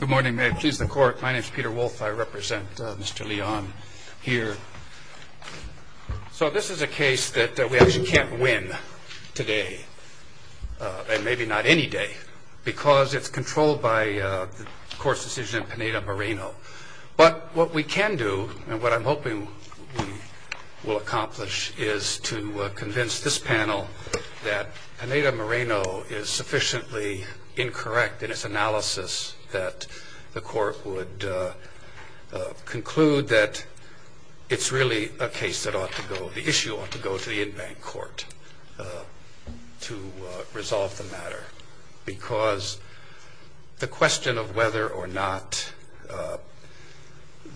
Good morning, may I please the court. My name is Peter Wolfe. I represent Mr. Leon here. So this is a case that we actually can't win today, and maybe not any day, because it's controlled by the court's decision in Pineda Moreno. But what we can do and what I'm hoping we will accomplish is to convince this panel that Pineda Moreno is sufficiently incorrect in its analysis that the court would conclude that it's really a case that ought to go, the issue ought to go to the in-bank court to resolve the matter. Because the question of whether or not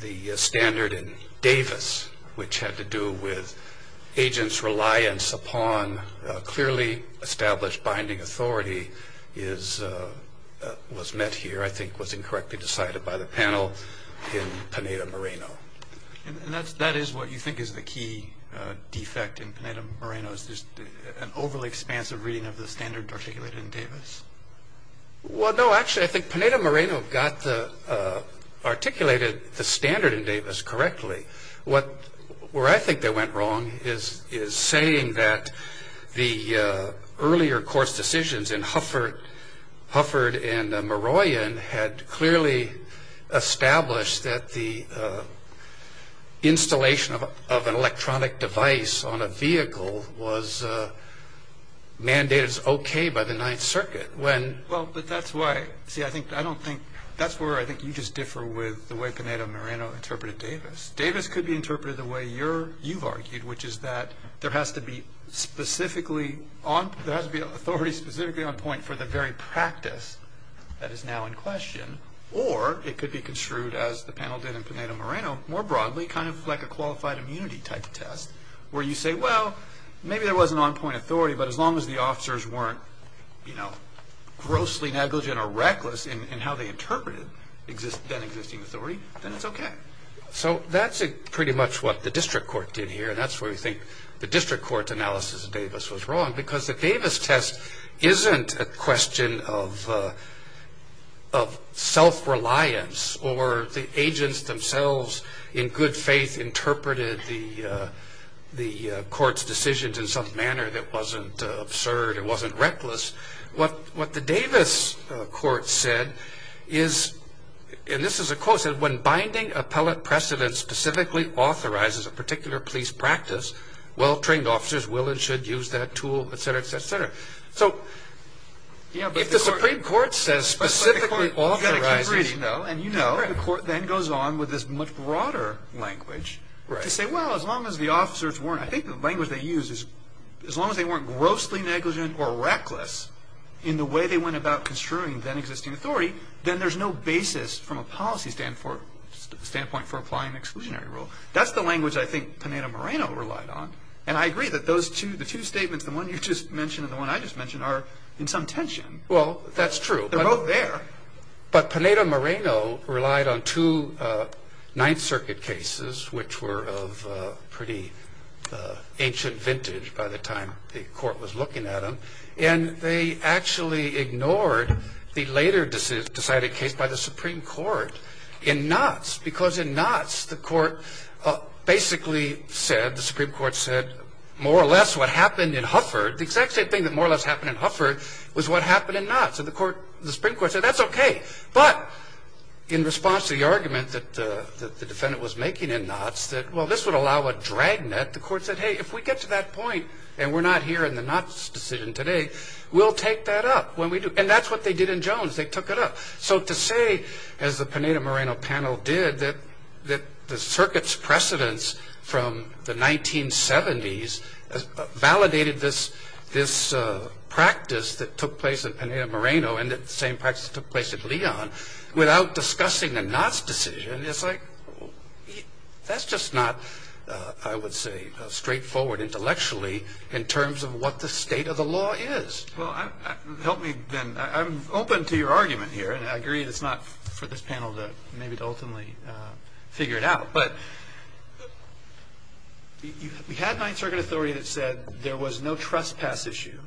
the standard in Davis, which had to do with agents' reliance upon clearly established binding authority, was met here I think was incorrectly decided by the panel in Pineda Moreno. And that is what you think is the key defect in Pineda Moreno, is just an overly expansive reading of the standard articulated in Davis? Well, no, actually I think Pineda Moreno articulated the standard in Davis correctly. What I think that went wrong is saying that the earlier court's decisions in Hufford and Maroyan had clearly established that the installation of an electronic device on a vehicle was mandated as okay by the Ninth Circuit. Well, but that's why, see I don't think, that's where I think you just differ with the way Pineda Moreno interpreted Davis. Davis could be interpreted the way you've argued, which is that there has to be authority specifically on point for the very practice that is now in question, or it could be construed as the panel did in Pineda Moreno, more broadly, kind of like a qualified immunity type test, where you say, well, maybe there was an on-point authority, but as long as the officers weren't, you know, grossly negligent or reckless in how they interpreted that existing authority, then it's okay. So that's pretty much what the district court did here, and that's where we think the district court's analysis of Davis was wrong, because the Davis test isn't a question of self-reliance, or the agents themselves in good faith interpreted the court's decisions in some manner that wasn't absurd, it wasn't reckless. What the Davis court said is, and this is a quote, it said, when binding appellate precedent specifically authorizes a particular police practice, well-trained officers will and should use that tool, et cetera, et cetera, et cetera. So if the Supreme Court says specifically authorizes, and you know, the court then goes on with this much broader language to say, well, as long as the officers weren't, I think the language they used is, as long as they weren't grossly negligent or reckless in the way they went about construing that existing authority, then there's no basis from a policy standpoint for applying exclusionary rule. That's the language I think Pineda-Moreno relied on, and I agree that those two statements, the one you just mentioned and the one I just mentioned, are in some tension. Well, that's true. They're both there. But Pineda-Moreno relied on two Ninth Circuit cases, which were of pretty ancient vintage by the time the court was looking at them, and they actually ignored the later decided case by the Supreme Court in Knotts, because in Knotts the court basically said, the Supreme Court said, more or less what happened in Hufford, the exact same thing that more or less happened in Hufford was what happened in Knotts. And the Supreme Court said, that's okay. But in response to the argument that the defendant was making in Knotts that, well, this would allow a drag net, the court said, hey, if we get to that point and we're not hearing the Knotts decision today, we'll take that up when we do. And that's what they did in Jones. They took it up. So to say, as the Pineda-Moreno panel did, that the circuit's precedence from the 1970s validated this practice that took place in Pineda-Moreno and the same practice that took place in Leon without discussing the Knotts decision, that's just not, I would say, straightforward intellectually in terms of what the state of the law is. Well, help me then. I'm open to your argument here. And I agree that it's not for this panel to maybe ultimately figure it out. But we had ninth circuit authority that said there was no trespass issue,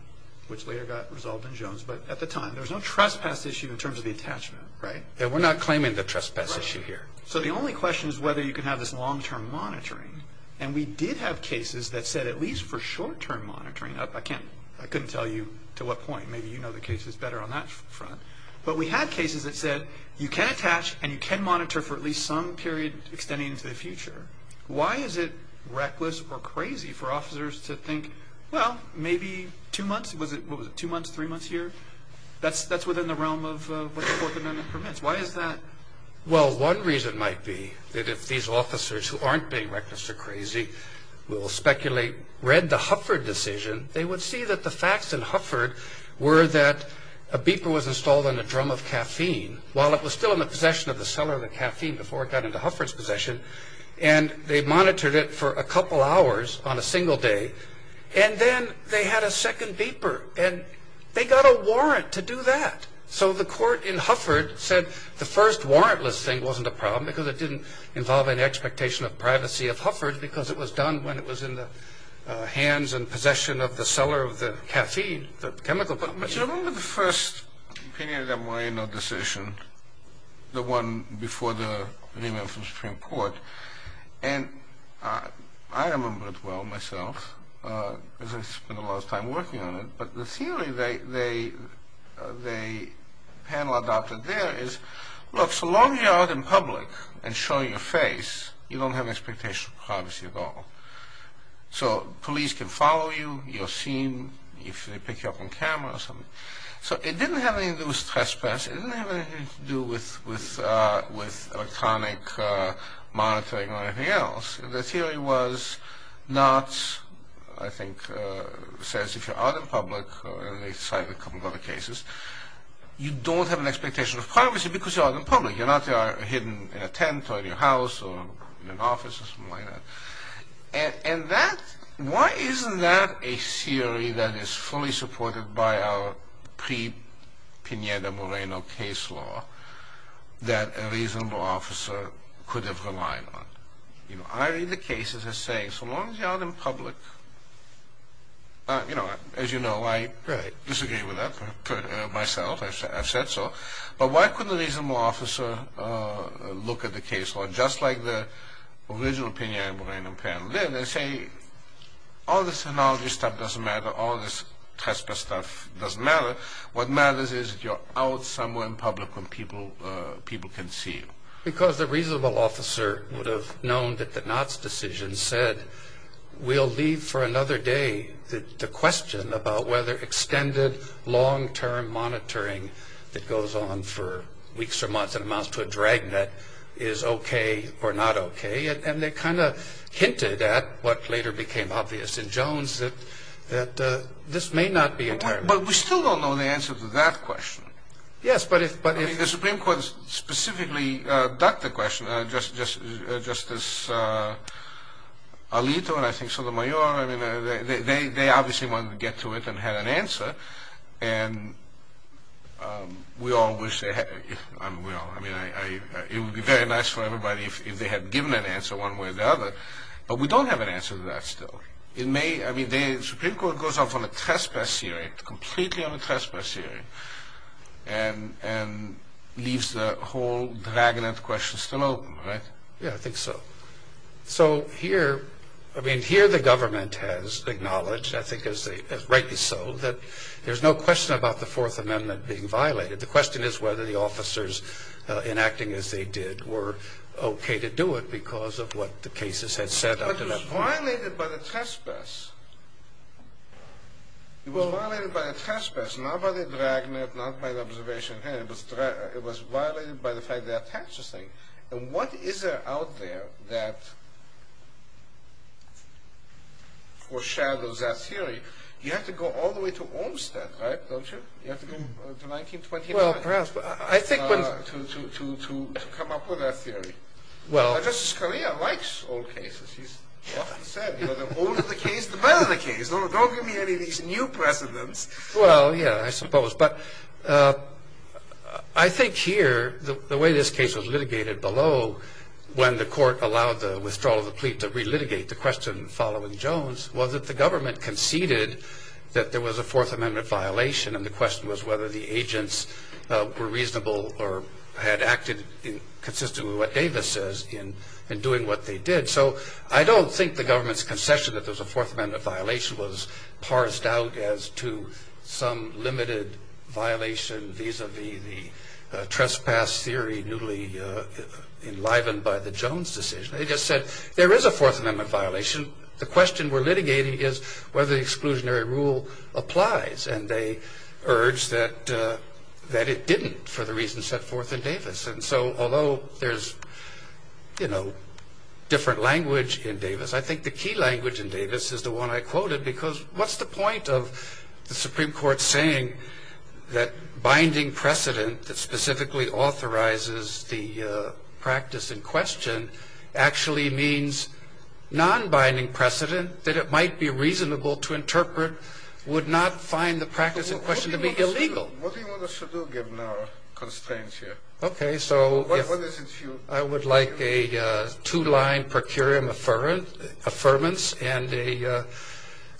which later got resolved in Jones. But at the time, there was no trespass issue in terms of the attachment, right? We're not claiming the trespass issue here. So the only question is whether you can have this long-term monitoring. And we did have cases that said at least for short-term monitoring. I couldn't tell you to what point. Maybe you know the cases better on that front. But we had cases that said you can attach and you can monitor for at least some period extending into the future. Why is it reckless or crazy for officers to think, well, maybe two months? Was it two months, three months here? That's within the realm of what the Fourth Amendment permits. Why is that? Well, one reason might be that if these officers who aren't being reckless or crazy will speculate, read the Hufford decision, they would see that the facts in Hufford were that a beeper was installed in a drum of caffeine, while it was still in the possession of the seller of the caffeine before it got into Hufford's possession. And they monitored it for a couple hours on a single day. And then they had a second beeper. And they got a warrant to do that. So the court in Hufford said the first warrantless thing wasn't a problem because it didn't involve any expectation of privacy of Hufford because it was done when it was in the hands and possession of the seller of the caffeine, the chemical. Do you remember the first opinion of the Moreno decision, the one before the remand from Supreme Court? And I remember it well myself because I spent a lot of time working on it. But the theory the panel adopted there is, look, so long as you're out in public and showing your face, you don't have an expectation of privacy at all. So police can follow you, you're seen, if they pick you up on camera or something. So it didn't have anything to do with trespass. It didn't have anything to do with electronic monitoring or anything else. The theory was not, I think, says if you're out in public, and they cited a couple of other cases, you don't have an expectation of privacy because you're out in public. You're not hidden in a tent or in your house or in an office or something like that. And that, why isn't that a theory that is fully supported by our pre-Pineda-Moreno case law that a reasonable officer could have relied on? You know, I read the cases as saying, so long as you're out in public, you know, as you know, I disagree with that myself. I've said so. But why couldn't a reasonable officer look at the case law just like the original Pineda-Moreno panel did and say, all this analogy stuff doesn't matter, all this trespass stuff doesn't matter. What matters is you're out somewhere in public when people can see you. Because the reasonable officer would have known that the Knotts decision said, we'll leave for another day the question about whether extended long-term monitoring that goes on for weeks or months and amounts to a dragnet is okay or not okay. And they kind of hinted at what later became obvious in Jones that this may not be a term. But we still don't know the answer to that question. Yes, but if- I mean, the Supreme Court specifically ducked the question. Justice Alito and I think Sotomayor, I mean, they obviously wanted to get to it and had an answer. And we all wish they had. I mean, it would be very nice for everybody if they had given an answer one way or the other. But we don't have an answer to that still. I mean, the Supreme Court goes off on a trespass hearing, completely on a trespass hearing, and leaves the whole dragnet question still open, right? Yeah, I think so. So here, I mean, here the government has acknowledged, I think rightly so, that there's no question about the Fourth Amendment being violated. The question is whether the officers, in acting as they did, were okay to do it because of what the cases had said up to that point. It was violated by the trespass. It was violated by the trespass, not by the dragnet, not by the observation hearing. It was violated by the fact they attached the thing. And what is there out there that foreshadows that theory? You have to go all the way to Olmstead, right, don't you? You have to go to 1929 to come up with that theory. Justice Scalia likes old cases. He's often said, the older the case, the better the case. Don't give me any of these new precedents. Well, yeah, I suppose. But I think here, the way this case was litigated below, when the court allowed the withdrawal of the plea to relitigate the question following Jones, was that the government conceded that there was a Fourth Amendment violation, and the question was whether the agents were reasonable or had acted consistent with what Davis says in doing what they did. So I don't think the government's concession that there was a Fourth Amendment violation was parsed out as to some limited violation vis-a-vis the trespass theory newly enlivened by the Jones decision. They just said, there is a Fourth Amendment violation. The question we're litigating is whether the exclusionary rule applies. And they urged that it didn't, for the reasons set forth in Davis. And so although there's, you know, different language in Davis, I think the key language in Davis is the one I quoted, because what's the point of the Supreme Court saying that binding precedent that specifically authorizes the practice in question actually means non-binding precedent, that it might be reasonable to interpret, would not find the practice in question to be illegal? What do you want us to do given our constraints here? Okay, so I would like a two-line procuratorial affirmance and a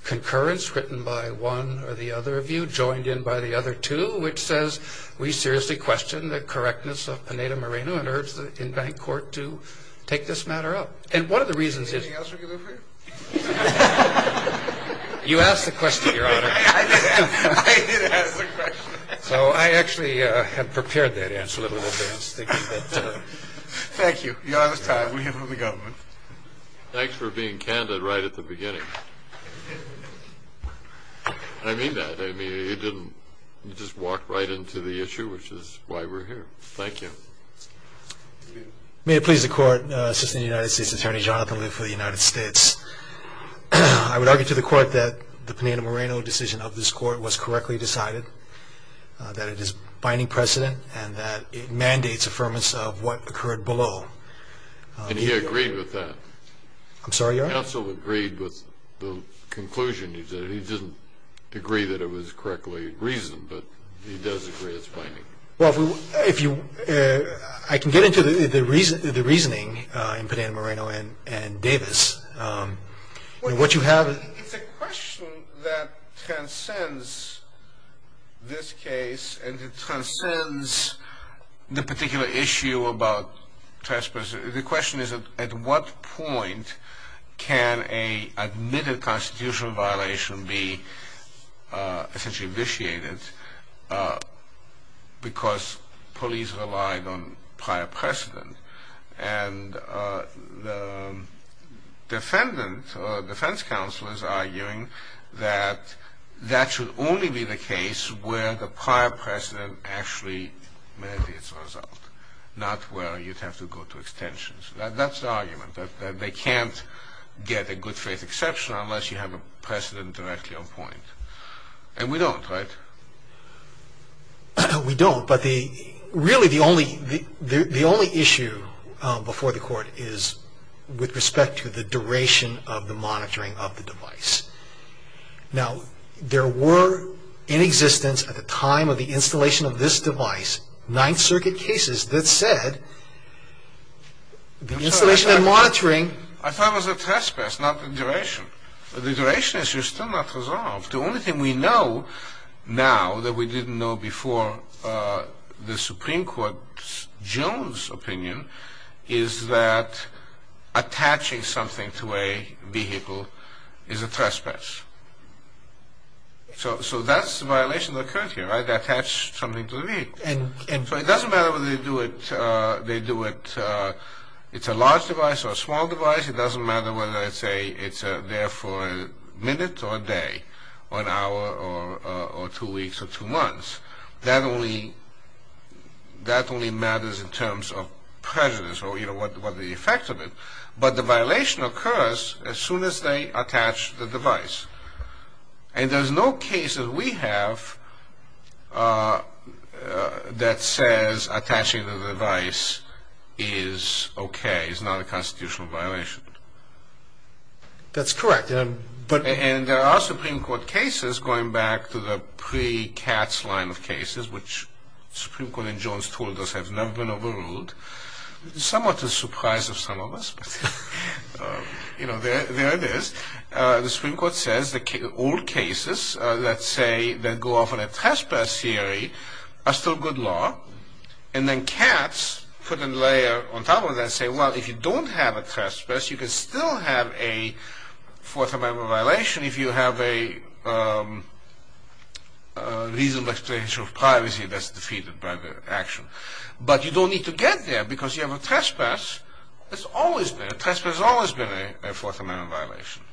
concurrence written by one or the other of you, joined in by the other two, which says we seriously question the correctness of Pineda-Moreno and urge the in-bank court to take this matter up. And one of the reasons is... Anything else we can do for you? You asked the question, Your Honor. I did ask the question. So I actually have prepared that answer a little bit in advance. Thank you. You're out of time. We'll hear from the government. Thanks for being candid right at the beginning. I mean that. I mean, you didn't just walk right into the issue, which is why we're here. Thank you. May it please the Court, Assistant United States Attorney Jonathan Lee for the United States. I would argue to the Court that the Pineda-Moreno decision of this Court was correctly decided, that it is binding precedent, and that it mandates affirmance of what occurred below. And he agreed with that. I'm sorry, Your Honor? The counsel agreed with the conclusion you said. He didn't agree that it was correctly reasoned, but he does agree it's binding. Well, I can get into the reasoning in Pineda-Moreno and Davis. What you have is... It's a question that transcends this case and it transcends the particular issue about trespass. The question is, at what point can an admitted constitutional violation be essentially vitiated because police relied on prior precedent? And the defendant or defense counsel is arguing that that should only be the case where the prior precedent actually manifests itself, not where you'd have to go to extensions. That's the argument, that they can't get a good-faith exception unless you have a precedent directly on point. And we don't, right? We don't. But really the only issue before the Court is with respect to the duration of the monitoring of the device. Now, there were in existence, at the time of the installation of this device, Ninth Circuit cases that said the installation and monitoring... I thought it was a trespass, not the duration. The duration issue is still not resolved. The only thing we know now that we didn't know before the Supreme Court's Jones opinion is that attaching something to a vehicle is a trespass. So that's the violation that occurred here, right? They attached something to the vehicle. So it doesn't matter whether they do it... It's a large device or a small device. It doesn't matter whether it's there for a minute or a day or an hour or two weeks or two months. That only matters in terms of prejudice or, you know, what the effect of it. But the violation occurs as soon as they attach the device. And there's no case that we have that says attaching the device is okay, is not a constitutional violation. That's correct. And there are Supreme Court cases, going back to the pre-CATS line of cases, which the Supreme Court in Jones told us have never been overruled. Somewhat a surprise to some of us, but, you know, there it is. The Supreme Court says that all cases that go off on a trespass theory are still good law. And then CATS put a layer on top of that and say, well, if you don't have a trespass, you can still have a Fourth Amendment violation if you have a reasonable extension of privacy that's defeated by the action. But you don't need to get there because you have a trespass. A trespass has always been a Fourth Amendment violation.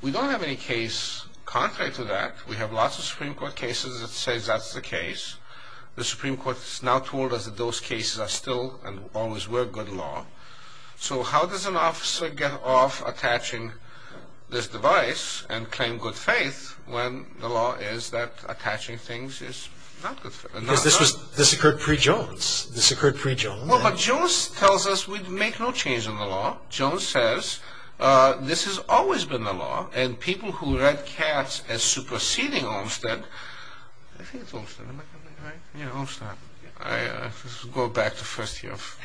We don't have any case contrary to that. We have lots of Supreme Court cases that say that's the case. The Supreme Court has now told us that those cases are still and always were good law. So how does an officer get off attaching this device and claim good faith when the law is that attaching things is not good faith? Because this occurred pre-Jones. This occurred pre-Jones. Well, but Jones tells us we make no change in the law. Jones says this has always been the law, and people who read CATS as superseding Olmstead, I think it's Olmstead, am I right? Yeah, Olmstead. Let's go back to first year of,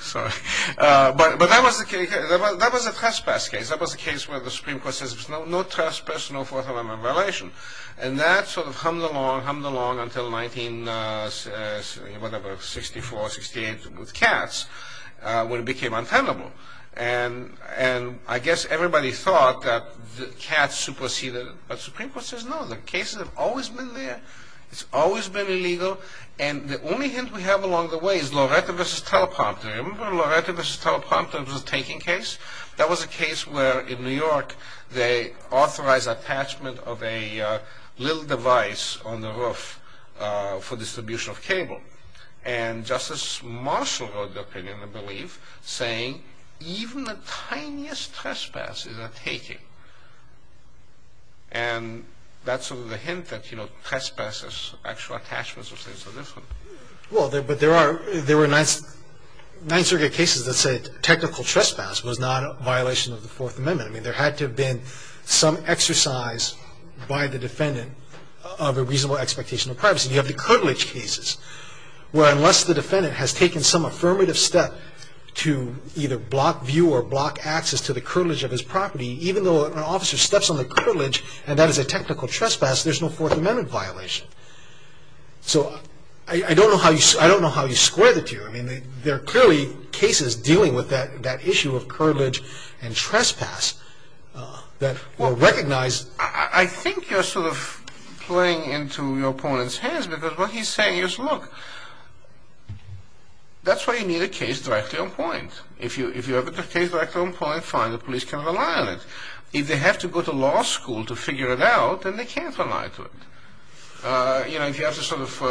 sorry. But that was a trespass case. That was a case where the Supreme Court says no trespass, no Fourth Amendment violation. And that sort of hummed along, hummed along until 1964, 1968 with CATS when it became untenable. And I guess everybody thought that CATS superseded it. But the Supreme Court says no. The cases have always been there. It's always been illegal. And the only hint we have along the way is Loretta v. Teleprompter. Remember Loretta v. Teleprompter? It was a taking case. That was a case where in New York they authorized attachment of a little device on the roof for distribution of cable. And Justice Marshall wrote the opinion, I believe, saying even the tiniest trespass is a taking. And that's sort of the hint that, you know, trespasses, actual attachments of things are different. Well, but there were nine circuit cases that said technical trespass was not a violation of the Fourth Amendment. I mean, there had to have been some exercise by the defendant of a reasonable expectation of privacy. And you have the curtilage cases where unless the defendant has taken some affirmative step to either block view or block access to the curtilage of his property, even though an officer steps on the curtilage and that is a technical trespass, there's no Fourth Amendment violation. So I don't know how you square the two. I mean, there are clearly cases dealing with that issue of curtilage and trespass that were recognized. I think you're sort of playing into your opponent's hands because what he's saying is, look, that's why you need a case directly on point. If you have a case directly on point, fine, the police can rely on it. If they have to go to law school to figure it out, then they can't rely on it. You know, if you have to sort of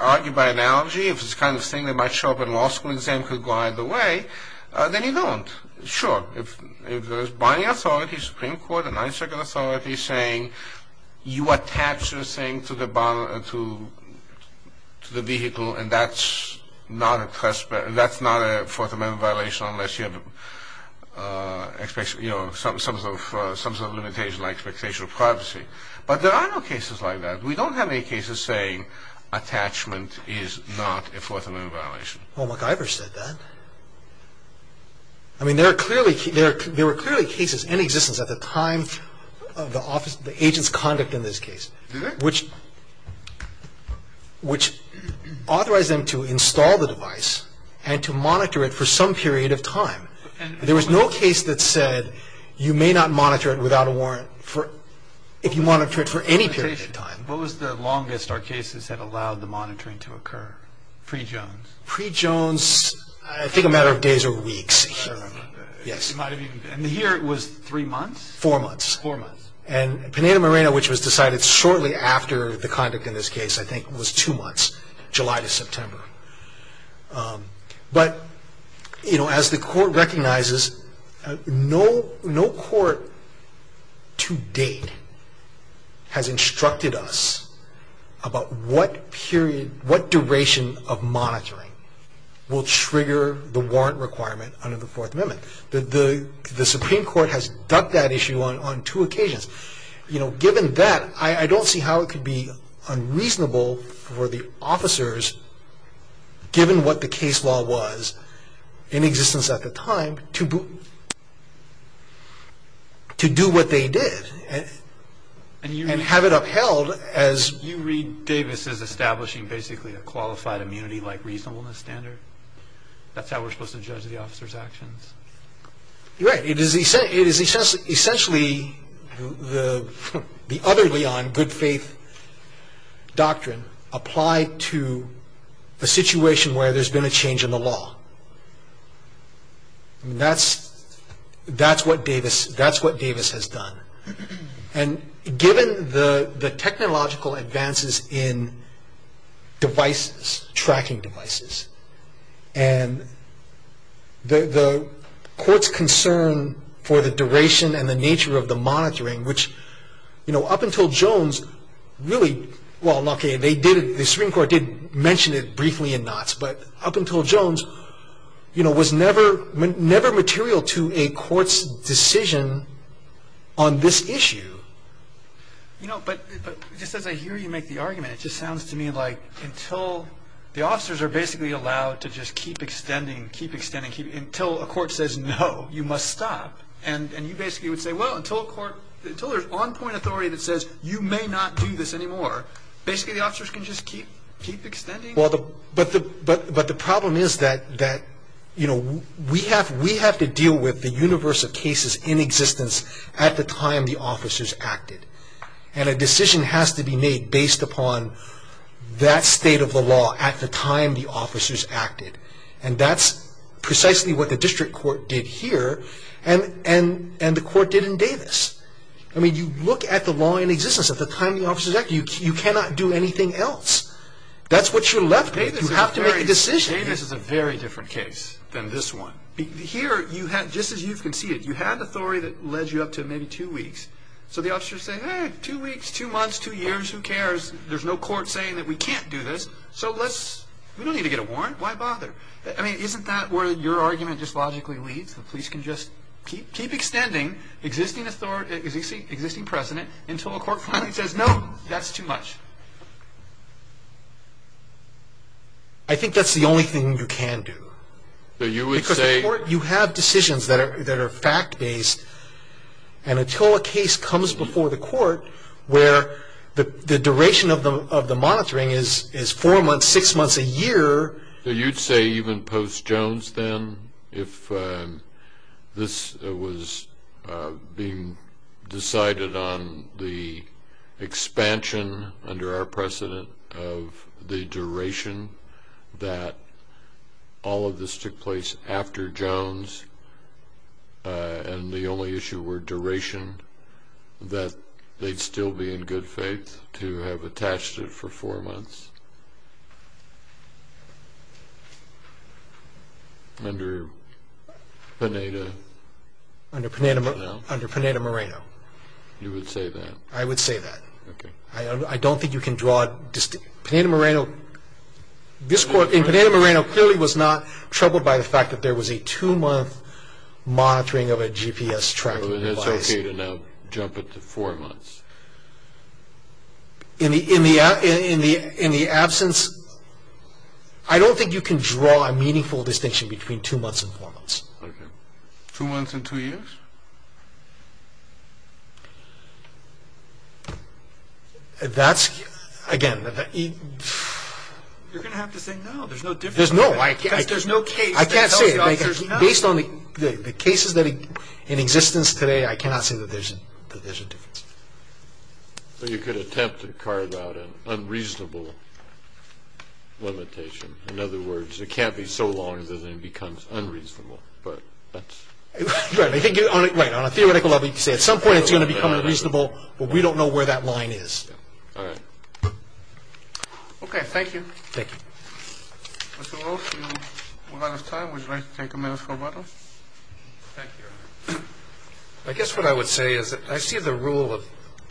argue by analogy, if it's the kind of thing that might show up in a law school exam could guide the way, then you don't. Sure, if there is binding authority, Supreme Court, a nine-second authority, saying you attach this thing to the vehicle and that's not a Fourth Amendment violation unless you have some sort of limitation like expectation of privacy. But there are no cases like that. We don't have any cases saying attachment is not a Fourth Amendment violation. Well, MacIver said that. I mean, there were clearly cases in existence at the time of the agent's conduct in this case which authorized them to install the device and to monitor it for some period of time. There was no case that said you may not monitor it without a warrant if you monitor it for any period of time. What was the longest our cases had allowed the monitoring to occur, pre-Jones? Pre-Jones, I think a matter of days or weeks, yes. And here it was three months? Four months. Four months. And Penina Moreno, which was decided shortly after the conduct in this case, I think was two months, July to September. But, you know, as the Court recognizes, no court to date has instructed us about what period, what duration of monitoring will trigger the warrant requirement under the Fourth Amendment. The Supreme Court has ducked that issue on two occasions. You know, given that, I don't see how it could be unreasonable for the officers, given what the case law was in existence at the time, to do what they did and have it upheld as... You read Davis as establishing basically a qualified immunity-like reasonableness standard? That's how we're supposed to judge the officers' actions? You're right. It is essentially the other Leon, good faith doctrine, applied to a situation where there's been a change in the law. That's what Davis has done. And given the technological advances in devices, tracking devices, and the Court's concern for the duration and the nature of the monitoring, which, you know, up until Jones, really, well, okay, the Supreme Court did mention it briefly in Knotts, but up until Jones, you know, was never material to a Court's decision on this issue. You know, but just as I hear you make the argument, it just sounds to me like until the officers are basically allowed to just keep extending, keep extending, until a Court says, no, you must stop, and you basically would say, well, until there's on-point authority that says you may not do this anymore, basically the officers can just keep extending? Well, but the problem is that, you know, we have to deal with the universe of cases in existence at the time the officers acted, and a decision has to be made based upon that state of the law at the time the officers acted, and that's precisely what the District Court did here, and the Court did in Davis. I mean, you look at the law in existence at the time the officers acted. You cannot do anything else. That's what you're left with. You have to make a decision. Davis is a very different case than this one. Here, just as you've conceded, you had authority that led you up to maybe two weeks, so the officers say, hey, two weeks, two months, two years, who cares, there's no Court saying that we can't do this, so let's, we don't need to get a warrant, why bother? I mean, isn't that where your argument just logically leads, the police can just keep extending existing authority, existing precedent, until a Court finally says, no, that's too much? I think that's the only thing you can do. So you would say? Because the Court, you have decisions that are fact-based, and until a case comes before the Court where the duration of the monitoring is four months, six months, a year. So you'd say even post-Jones then, if this was being decided on the expansion, under our precedent, of the duration that all of this took place after Jones, and the only issue were duration, that they'd still be in good faith to have attached it for four months? Under Pineda? Under Pineda-Moreno. You would say that? I would say that. Okay. I don't think you can draw a distinct, Pineda-Moreno, this Court, Pineda-Moreno clearly was not troubled by the fact that there was a two-month monitoring of a GPS tracking device. So it's okay to now jump it to four months? In the absence, I don't think you can draw a meaningful distinction between two months and four months. Okay. Two months and two years? That's, again, You're going to have to say no. There's no difference. There's no. Because there's no case. I can't say it. Based on the cases in existence today, I cannot say that there's a difference. But you could attempt to carve out an unreasonable limitation. In other words, it can't be so long that it becomes unreasonable. Right. On a theoretical level, you could say at some point it's going to become unreasonable, but we don't know where that line is. All right. Okay. Thank you. Thank you. Mr. Wilson, we're out of time. Would you like to take a minute or two? Thank you, Your Honor. I guess what I would say is that I see the rule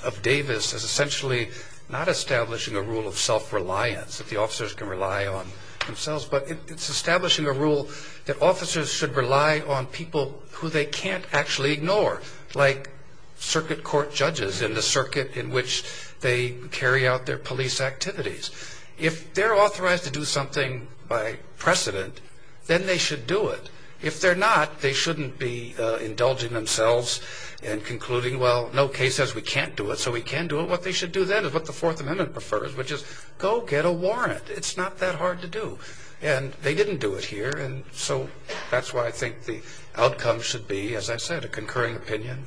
of Davis as essentially not establishing a rule of self-reliance, that the officers can rely on themselves, but it's establishing a rule that officers should rely on people who they can't actually ignore, like circuit court judges in the circuit in which they carry out their police activities. If they're authorized to do something by precedent, then they should do it. If they're not, they shouldn't be indulging themselves and concluding, well, no case says we can't do it, so we can do it. What they should do then is what the Fourth Amendment prefers, which is go get a warrant. It's not that hard to do. And they didn't do it here, and so that's why I think the outcome should be, as I said, a concurring opinion,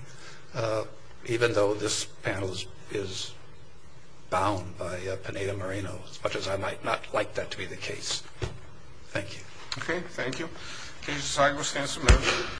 even though this panel is bound by Pineda-Marino, as much as I might not like that to be the case. Thank you. Okay, thank you. Case decided. We'll stand some minutes.